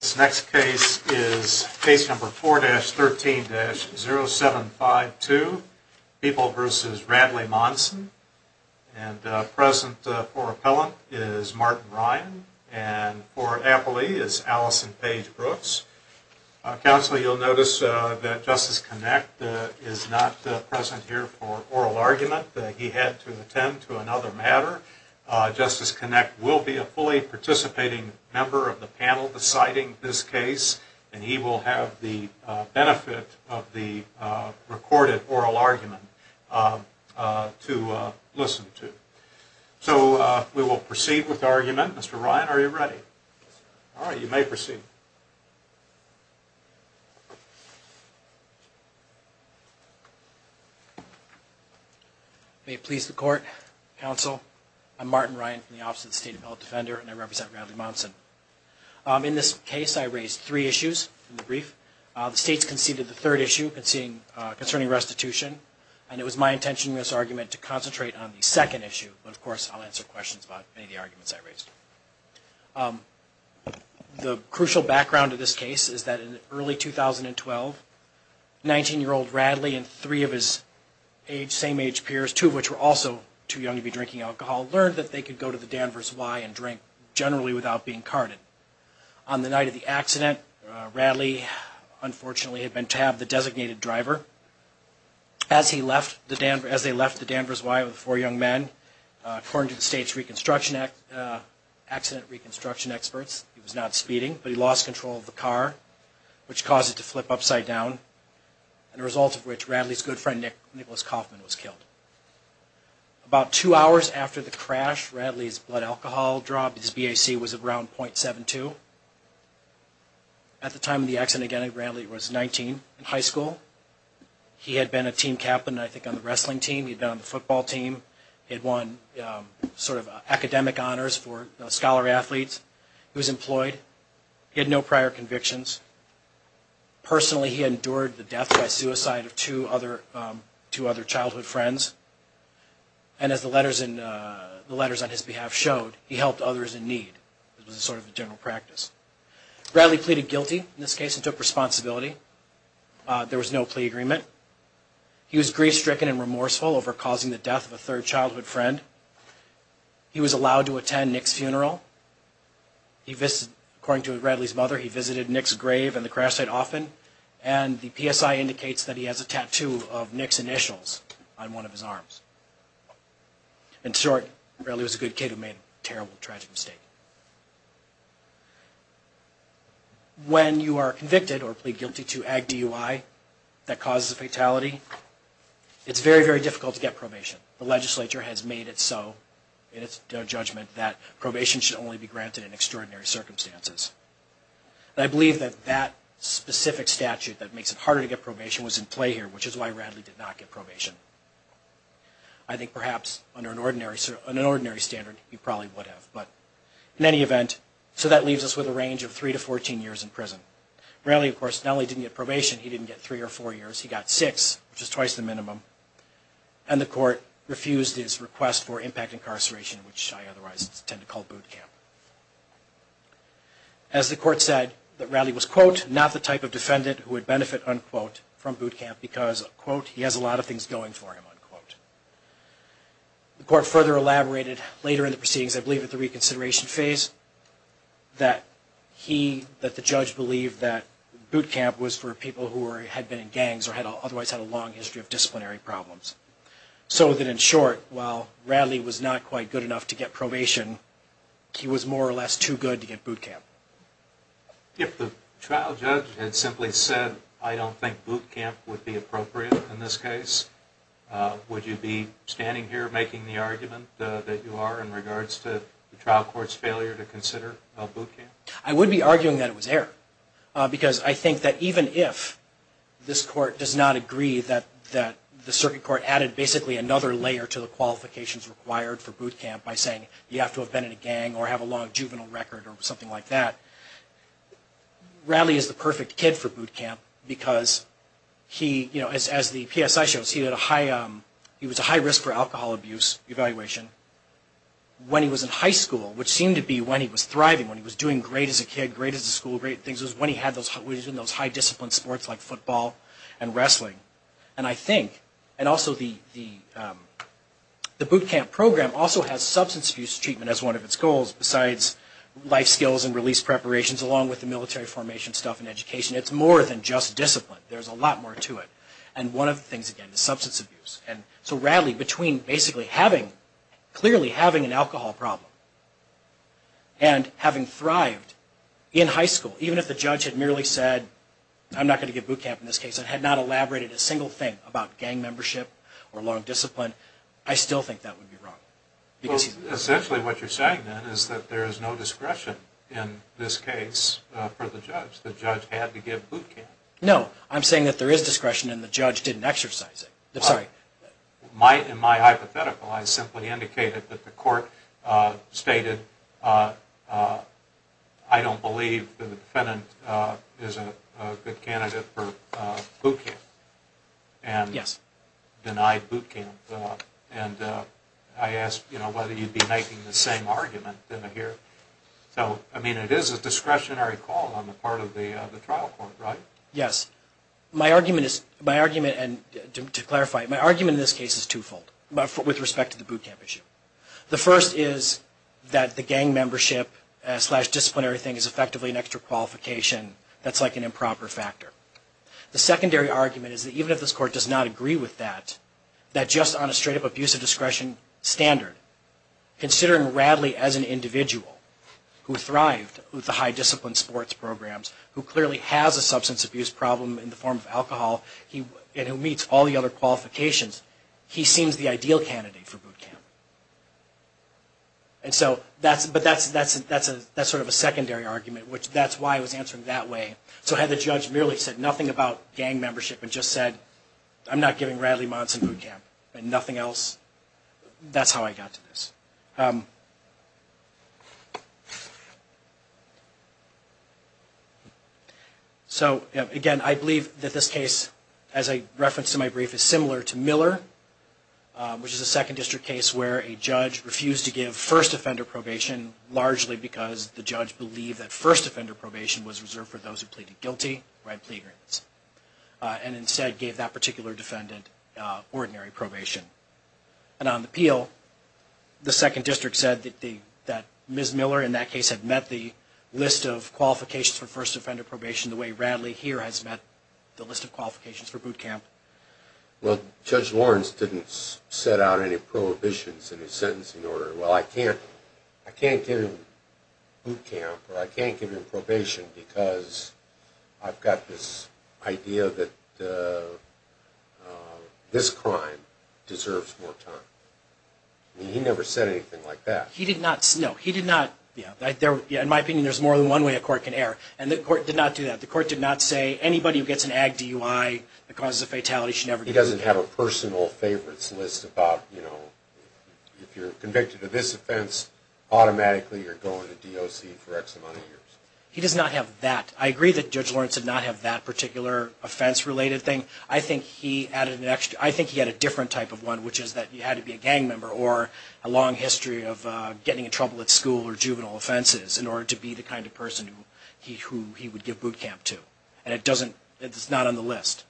This next case is case number 4-13-0752, People v. Radley-Monson, and present for appellant is Martin Ryan, and for appellee is Allison Paige Brooks. Counsel, you'll notice that Justice Connect is not present here for oral argument. He had to attend to another matter. Justice Connect will be a fully participating member of the panel deciding this case, and he will have the benefit of the recorded oral argument to listen to. So we will proceed with argument. Mr. Ryan, are you ready? All right, you may proceed. Mr. Ryan May it please the Court, Counsel, I'm Martin Ryan from the Office of the State Appellate Defender, and I represent Radley-Monson. In this case, I raised three issues in the brief. The states conceded the third issue concerning restitution, and it was my intention in this argument to concentrate on the second issue, but of course I'll answer questions about any of the arguments I raised. The crucial background of this case is that in early 2012, 19-year-old Radley and three of his same-age peers, two of which were also too young to be drinking alcohol, learned that they could go to the Danvers Y and drink generally without being carded. On the night of the accident, Radley unfortunately had been tabbed the designated driver. As they left the Danvers Y with four young men, according to the state's accident reconstruction experts, he was not speeding, but he lost control of the car, which caused it to flip upside down, and a result of which Radley's good friend Nicholas Kaufman was killed. About two hours after the crash, Radley's blood alcohol dropped. His BAC was around .72. At the time of the accident, again, Radley was 19 in high school. He had been a team captain, I think, on the wrestling team. He had won sort of academic honors for scholar athletes. He was employed. He had no prior convictions. Personally, he endured the death by suicide of two other childhood friends, and as the letters on his behalf showed, he helped others in need. It was sort of a general practice. Radley pleaded guilty in this case and took responsibility. There was no plea taken and remorseful over causing the death of a third childhood friend. He was allowed to attend Nick's funeral. He visited, according to Radley's mother, he visited Nick's grave and the crash site often, and the PSI indicates that he has a tattoo of Nick's initials on one of his arms. In short, Radley was a good kid who made a terrible, tragic mistake. When you are convicted or plead guilty to AG DUI that causes a fatality, it's very, very difficult to get probation. The legislature has made it so in its judgment that probation should only be granted in extraordinary circumstances. I believe that that specific statute that makes it harder to get probation was in play here, which is why Radley did not get probation. I think perhaps under an ordinary standard, he probably would have, but in any event, so that leaves us with a range of three to fourteen years in prison. Radley, of course, not only didn't get probation, he didn't get three or four years. He got six, which is twice the minimum, and the court refused his request for impact incarceration, which I otherwise tend to call boot camp. As the court said, that Radley was, quote, not the type of defendant who would benefit, unquote, from boot camp because, quote, he has a lot of time for him, unquote. The court further elaborated later in the proceedings, I believe at the reconsideration phase, that he, that the judge believed that boot camp was for people who had been in gangs or had otherwise had a long history of disciplinary problems. So that in short, while Radley was not quite good enough to get probation, he was more or less too good to get boot camp. If the trial judge had simply said, I don't think boot camp would be appropriate in this case, would you be standing here making the argument that you are in regards to the trial court's failure to consider boot camp? I would be arguing that it was error, because I think that even if this court does not agree that, that the circuit court added basically another layer to the qualifications required for boot camp by saying, you have to have been in a gang or have a long juvenile record or something like that, Radley is the perfect kid for boot camp because he, you know, as the PSI shows, he had a high, he was a high risk for alcohol abuse evaluation when he was in high school, which seemed to be when he was thriving, when he was doing great as a kid, great as a school, great things, was when he had those, was in those high discipline sports like football and wrestling. And I think, and also the, the boot camp program also has substance abuse treatment as one of its goals besides life skills and release preparations along with the military formation stuff and education. It's more than just discipline. There's a lot more to it. And one of the things, again, is substance abuse. And so Radley, between basically having, clearly having an alcohol problem and having thrived in high school, even if the judge had merely said, I'm not going to give boot camp in this case, and had not elaborated a single thing about gang membership or long discipline, I still think that would be wrong. Essentially what you're saying then is that there is no discretion in this case for the judge. The judge had to give boot camp. No. I'm saying that there is discretion and the judge didn't exercise it. I'm sorry. In my hypothetical, I simply indicated that the court stated, I don't believe the defendant is a good candidate for boot camp. And denied boot camp. And I asked whether you'd be making the same argument, didn't I here? So, I mean, it is a discretionary call on the part of the trial court, right? Yes. My argument is, my argument, and to clarify, my argument in this case is twofold with respect to the boot camp issue. The first is that the gang membership slash disciplinary thing is effectively an extra qualification. That's like an improper factor. The secondary argument is that even if this court does not agree with that, that just on a straight up abuse of discretion standard, considering Radley as an individual who thrived with the high discipline sports programs, who clearly has a substance abuse problem in the form of alcohol, and who meets all the other qualifications, he seems the ideal candidate for boot camp. And so, but that's sort of a secondary argument, which that's why I was answering that way. So had the judge merely said nothing about gang membership and just said, I'm not giving Radley-Monson boot camp, and nothing else, that's how I got to this. So again, I believe that this case, as a reference to my brief, is similar to Miller, which is a second district case where a judge refused to give first offender probation, largely because the judge believed that first offender probation was reserved for those who pleaded guilty, right plea agreements, and instead gave that particular defendant ordinary probation. And on the appeal, the second district said that Ms. Miller in that case had met the list of qualifications for first offender probation the way Radley here has met the list of qualifications for boot camp. Well, Judge Lawrence didn't set out any prohibitions in his sentencing order. Well, I can't give him boot camp or I can't give him probation because I've got this idea that this crime deserves more time. He never said anything like that. He did not. No, he did not. Yeah, in my opinion, there's more than one way a court can err, and the court did not do that. The court did not say anybody who gets an AG DUI that causes a fatality should never do that. He doesn't have a personal favorites list about, you know, if you're convicted of this offense, automatically you're going to DOC for X amount of years. He does not have that. I agree that Judge Lawrence did not have that particular offense related thing. I think he added an extra, I think he had a different type of one, which is that you had to be a gang member or a long history of getting in trouble at school or juvenile offenses in order to be the kind of person who he would give boot camp to. And it doesn't, it's not on the list.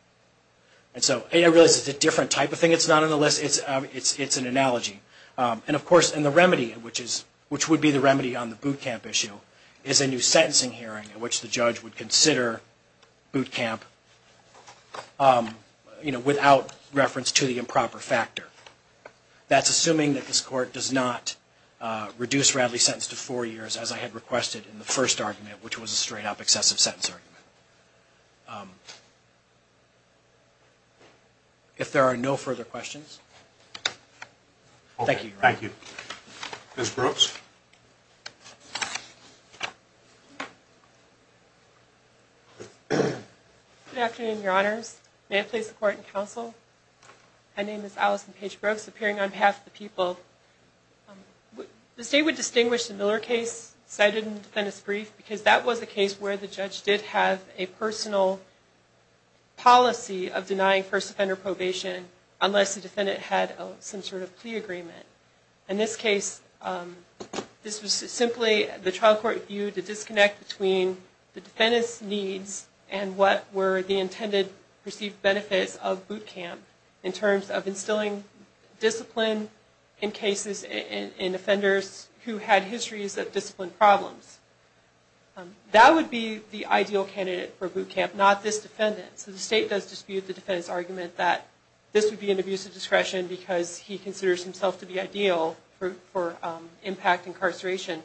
And so, I realize it's a different type of thing, it's not on the list, it's an analogy. And of course, the remedy, which would be the remedy on the boot camp issue, is a new sentencing hearing in which the judge would consider boot camp, you know, without reference to the improper factor. That's assuming that this court does not reduce Radley's sentence to four years, as I had requested in the first argument, which was a straight up excessive sentence argument. If there are no further questions, thank you, Your Honor. Thank you. Ms. Brooks? Good afternoon, Your Honors. May I please support and counsel? My name is Allison Paige Brooks, appearing on behalf of the people. The state would distinguish the Miller case cited in the defendant's brief because that was a case where the judge did have a personal policy of denying first offender probation unless the defendant had some sort of plea agreement. In this case, this was simply the trial court view to disconnect between the defendant's needs and what were the intended perceived benefits of boot camp in terms of instilling discipline in cases in offenders who had histories of discipline problems. That would be the ideal candidate for boot camp, not this defendant. So the state does dispute the defendant's argument that this would be an abuse of discretion because he considers himself to be ideal for impact incarceration.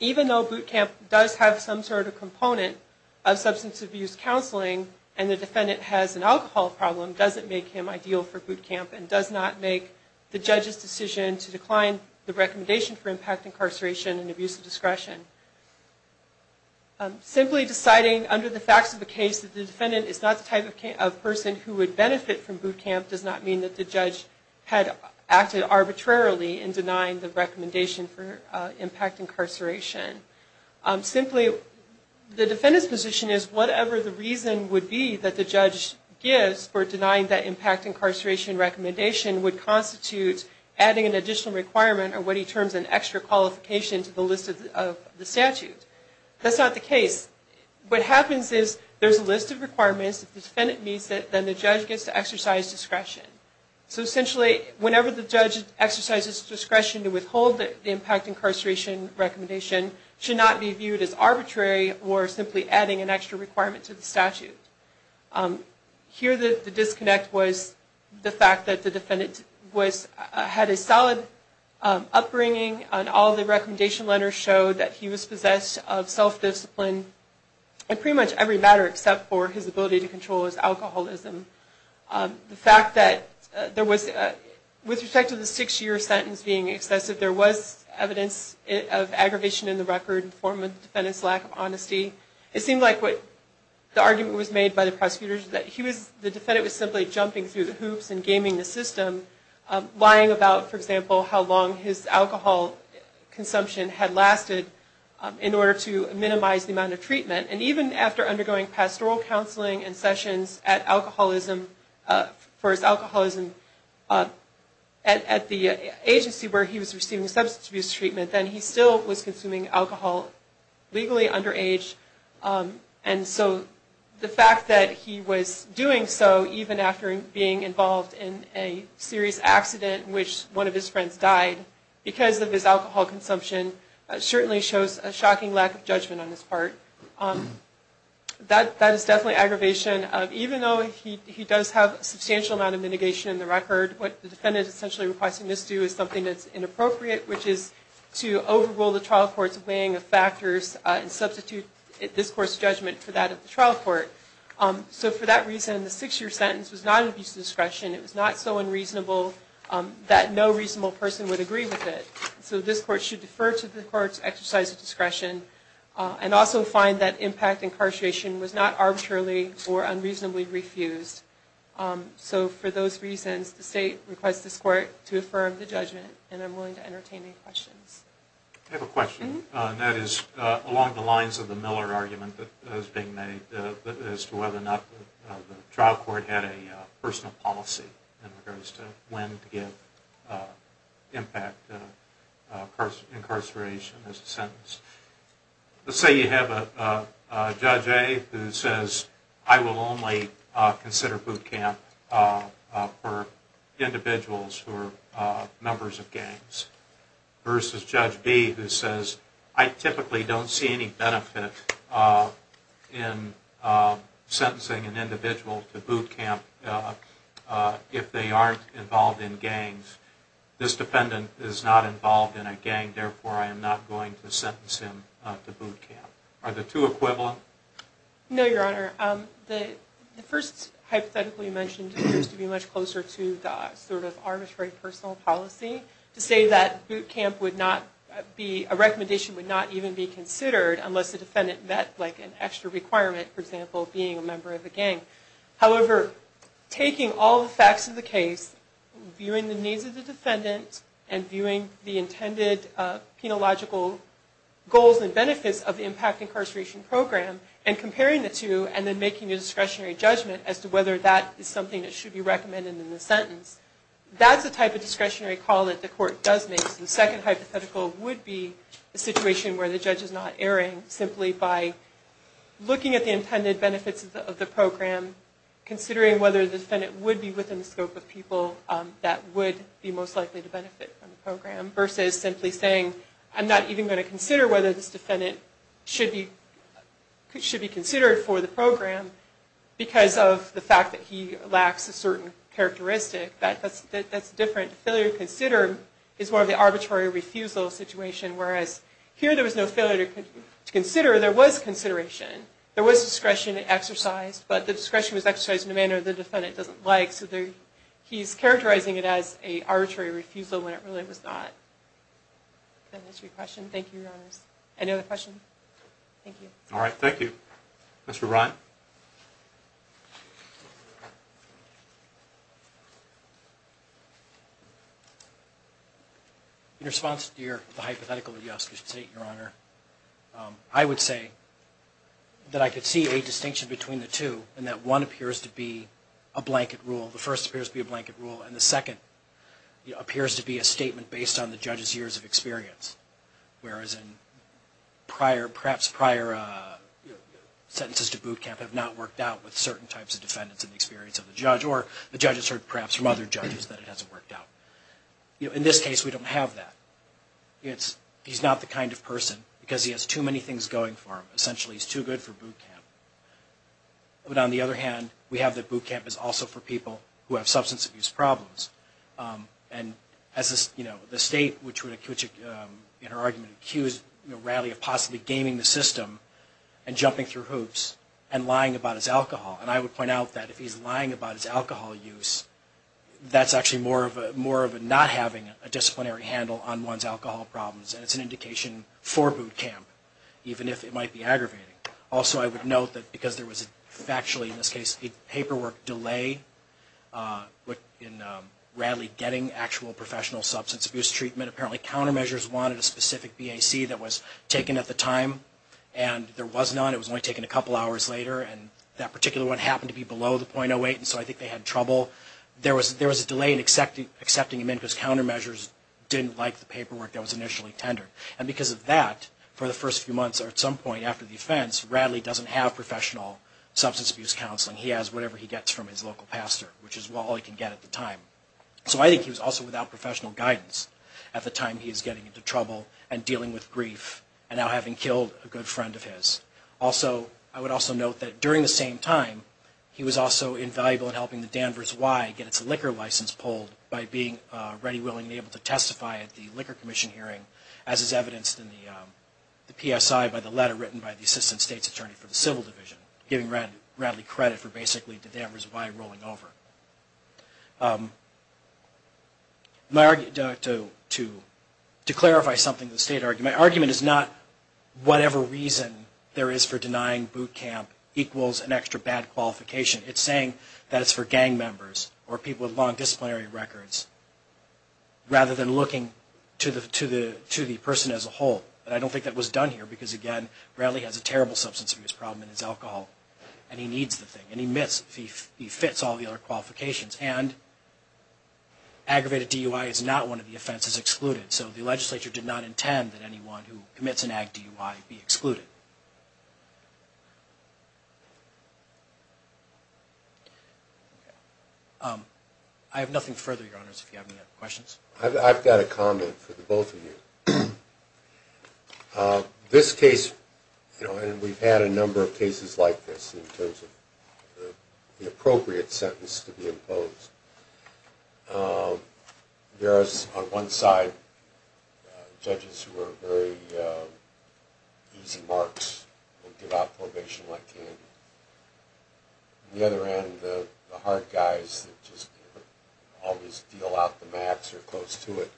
Even though boot camp does have some sort of component of substance abuse counseling and the defendant has an alcohol problem, does it make him ideal for boot camp and does it not make the judge's decision to decline the recommendation for impact incarceration and abuse of discretion? Simply deciding under the facts of the case that the defendant is not the type of person who would benefit from boot camp does not mean that the judge had acted arbitrarily in denying the recommendation for impact incarceration. Simply the defendant's position is whatever the reason would be that the judge gives for would constitute adding an additional requirement or what he terms an extra qualification to the list of the statute. That's not the case. What happens is there's a list of requirements, if the defendant meets it, then the judge gets to exercise discretion. So essentially, whenever the judge exercises discretion to withhold the impact incarceration recommendation should not be viewed as arbitrary or simply adding an extra requirement to the statute. Here, the disconnect was the fact that the defendant had a solid upbringing and all the recommendation letters showed that he was possessed of self-discipline in pretty much every matter except for his ability to control his alcoholism. The fact that there was, with respect to the six-year sentence being excessive, there was evidence of aggravation in the record in the form of the defendant's lack of honesty. It seemed like what the argument was made by the prosecutors was that the defendant was simply jumping through the hoops and gaming the system, lying about, for example, how long his alcohol consumption had lasted in order to minimize the amount of treatment. And even after undergoing pastoral counseling and sessions for his alcoholism at the agency where he was receiving substance abuse treatment, then he still was consuming alcohol legally underage and so the fact that he was doing so even after being involved in a serious accident in which one of his friends died because of his alcohol consumption certainly shows a shocking lack of judgment on his part. That is definitely aggravation. Even though he does have a substantial amount of mitigation in the record, what the defendant essentially requires to misdo is something that's inappropriate, which is to overrule the trial court's weighing of factors and substitute this court's judgment for that of the trial court. So for that reason, the six-year sentence was not an abuse of discretion. It was not so unreasonable that no reasonable person would agree with it. So this court should defer to the court's exercise of discretion and also find that impact incarceration was not arbitrarily or unreasonably refused. So for those reasons, the state requests this court to affirm the judgment and I'm willing to entertain any questions. I have a question. That is along the lines of the Miller argument that is being made as to whether or not the trial court had a personal policy in regards to when to give impact incarceration as a sentence. Let's say you have a Judge A who says, I will only consider boot camp for individuals who are members of gangs versus Judge B who says, I typically don't see any benefit in sentencing an individual to boot camp if they aren't involved in gangs. This defendant is not involved in a gang, therefore I am not going to sentence him to boot camp. Are the two equivalent? No, Your Honor. The first hypothetical you mentioned appears to be much closer to the sort of arbitrary personal policy to say that boot camp would not be, a recommendation would not even be considered unless the defendant met like an extra requirement, for example, being a member of a gang. However, taking all the facts of the case, viewing the needs of the defendant and viewing the intended penological goals and benefits of the impact incarceration program and comparing the two and then making a discretionary judgment as to whether that is something that should be recommended in the sentence, that's the type of discretionary call that the court does make. The second hypothetical would be a situation where the Judge is not erring simply by looking at the intended benefits of the program, considering whether the defendant would be within the scope of people that would be most likely to benefit from the program versus simply saying, I'm not even going to consider whether this defendant should be considered for the program because of the fact that he lacks a certain characteristic. That's different. Failure to consider is more of the arbitrary refusal situation, whereas here there was no failure to consider, there was consideration. There was discretion exercised, but the discretion was exercised in a manner the defendant doesn't like, so he's characterizing it as an arbitrary refusal when it really was not. That answers your question. Thank you, Your Honors. Any other questions? Thank you. All right. Thank you. Mr. Ryan? In response to your hypothetical, Your Honor, I would say that I could see a distinction between the two in that one appears to be a blanket rule, the first appears to be a blanket rule, and the second appears to be a statement based on the judge's years of experience, whereas perhaps prior sentences to boot camp have not worked out with certain types of defendants in the experience of the judge or the judge has heard perhaps from other judges that it hasn't worked out. In this case, we don't have that. He's not the kind of person because he has too many things going for him. Essentially, he's too good for boot camp. But on the other hand, we have that boot camp is also for people who have substance abuse problems. And as the State, which in her argument accused Raleigh of possibly gaming the system and jumping through hoops and lying about his alcohol, and I would point out that if he's lying about his alcohol use, that's actually more of a not having a disciplinary handle on one's alcohol problems, and it's an indication for boot camp, even if it might be aggravating. Also, I would note that because there was factually, in this case, a paperwork delay in Raleigh getting actual professional substance abuse treatment, apparently countermeasures wanted a specific BAC that was taken at the time, and there was none. It was only taken a couple hours later, and that particular one happened to be below the .08, and so I think they had trouble. There was a delay in accepting him in because countermeasures didn't like the paperwork that was initially tendered. And because of that, for the first few months or at some point after the offense, Raleigh doesn't have professional substance abuse counseling. He has whatever he gets from his local pastor, which is all he can get at the time. So I think he was also without professional guidance at the time he was getting into trouble and dealing with grief and now having killed a good friend of his. Also, I would also note that during the same time, he was also invaluable in helping the Danvers Y get its liquor license pulled by being ready, willing, and able to testify at the Liquor Commission hearing, as is evidenced in the PSI by the letter written by the Assistant State's Attorney for the Civil Division, giving Raleigh credit for basically the Danvers Y rolling over. To clarify something the State argued, my argument is not whatever reason there is for denying boot camp equals an extra bad qualification. It's saying that it's for gang members or people with long disciplinary records, rather than looking to the person as a whole. I don't think that was done here because, again, Raleigh has a terrible substance abuse problem and he needs the thing and he fits all the other qualifications. And aggravated DUI is not one of the offenses excluded. So the legislature did not intend that anyone who commits an ag DUI be excluded. I have nothing further, Your Honors, if you have any other questions. I've got a comment for the both of you. This case, you know, and we've had a number of cases like this in terms of the appropriate sentence to be imposed. There is, on one side, judges who are very easy markers, and on the other side, judges who give out probation like candy. On the other end, the hard guys that just always deal out the max or close to it.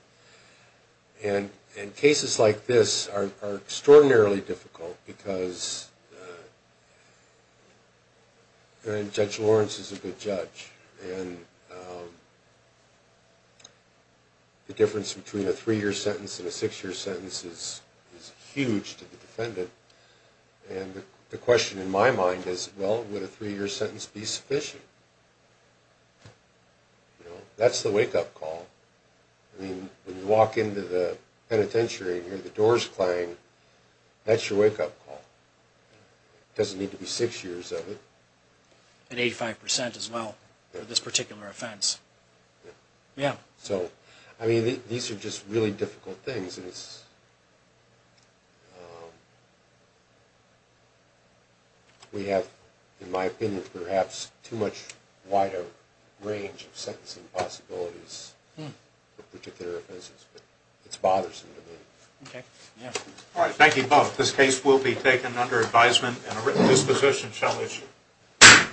And cases like this are extraordinarily difficult because, and Judge Lawrence is a good judge, and the difference between a three-year sentence and a six-year sentence is huge to the defendant. And the question in my mind is, well, would a three-year sentence be sufficient? You know, that's the wake-up call. I mean, when you walk into the penitentiary and hear the doors clang, that's your wake-up call. It doesn't need to be six years of it. And 85% as well for this particular offense. Yeah. So, I mean, these are just really difficult things. And the reason is, we have, in my opinion, perhaps too much wider range of sentencing possibilities for particular offenses. It's bothersome to me. All right, thank you both. This case will be taken under advisement, and a written disposition shall issue.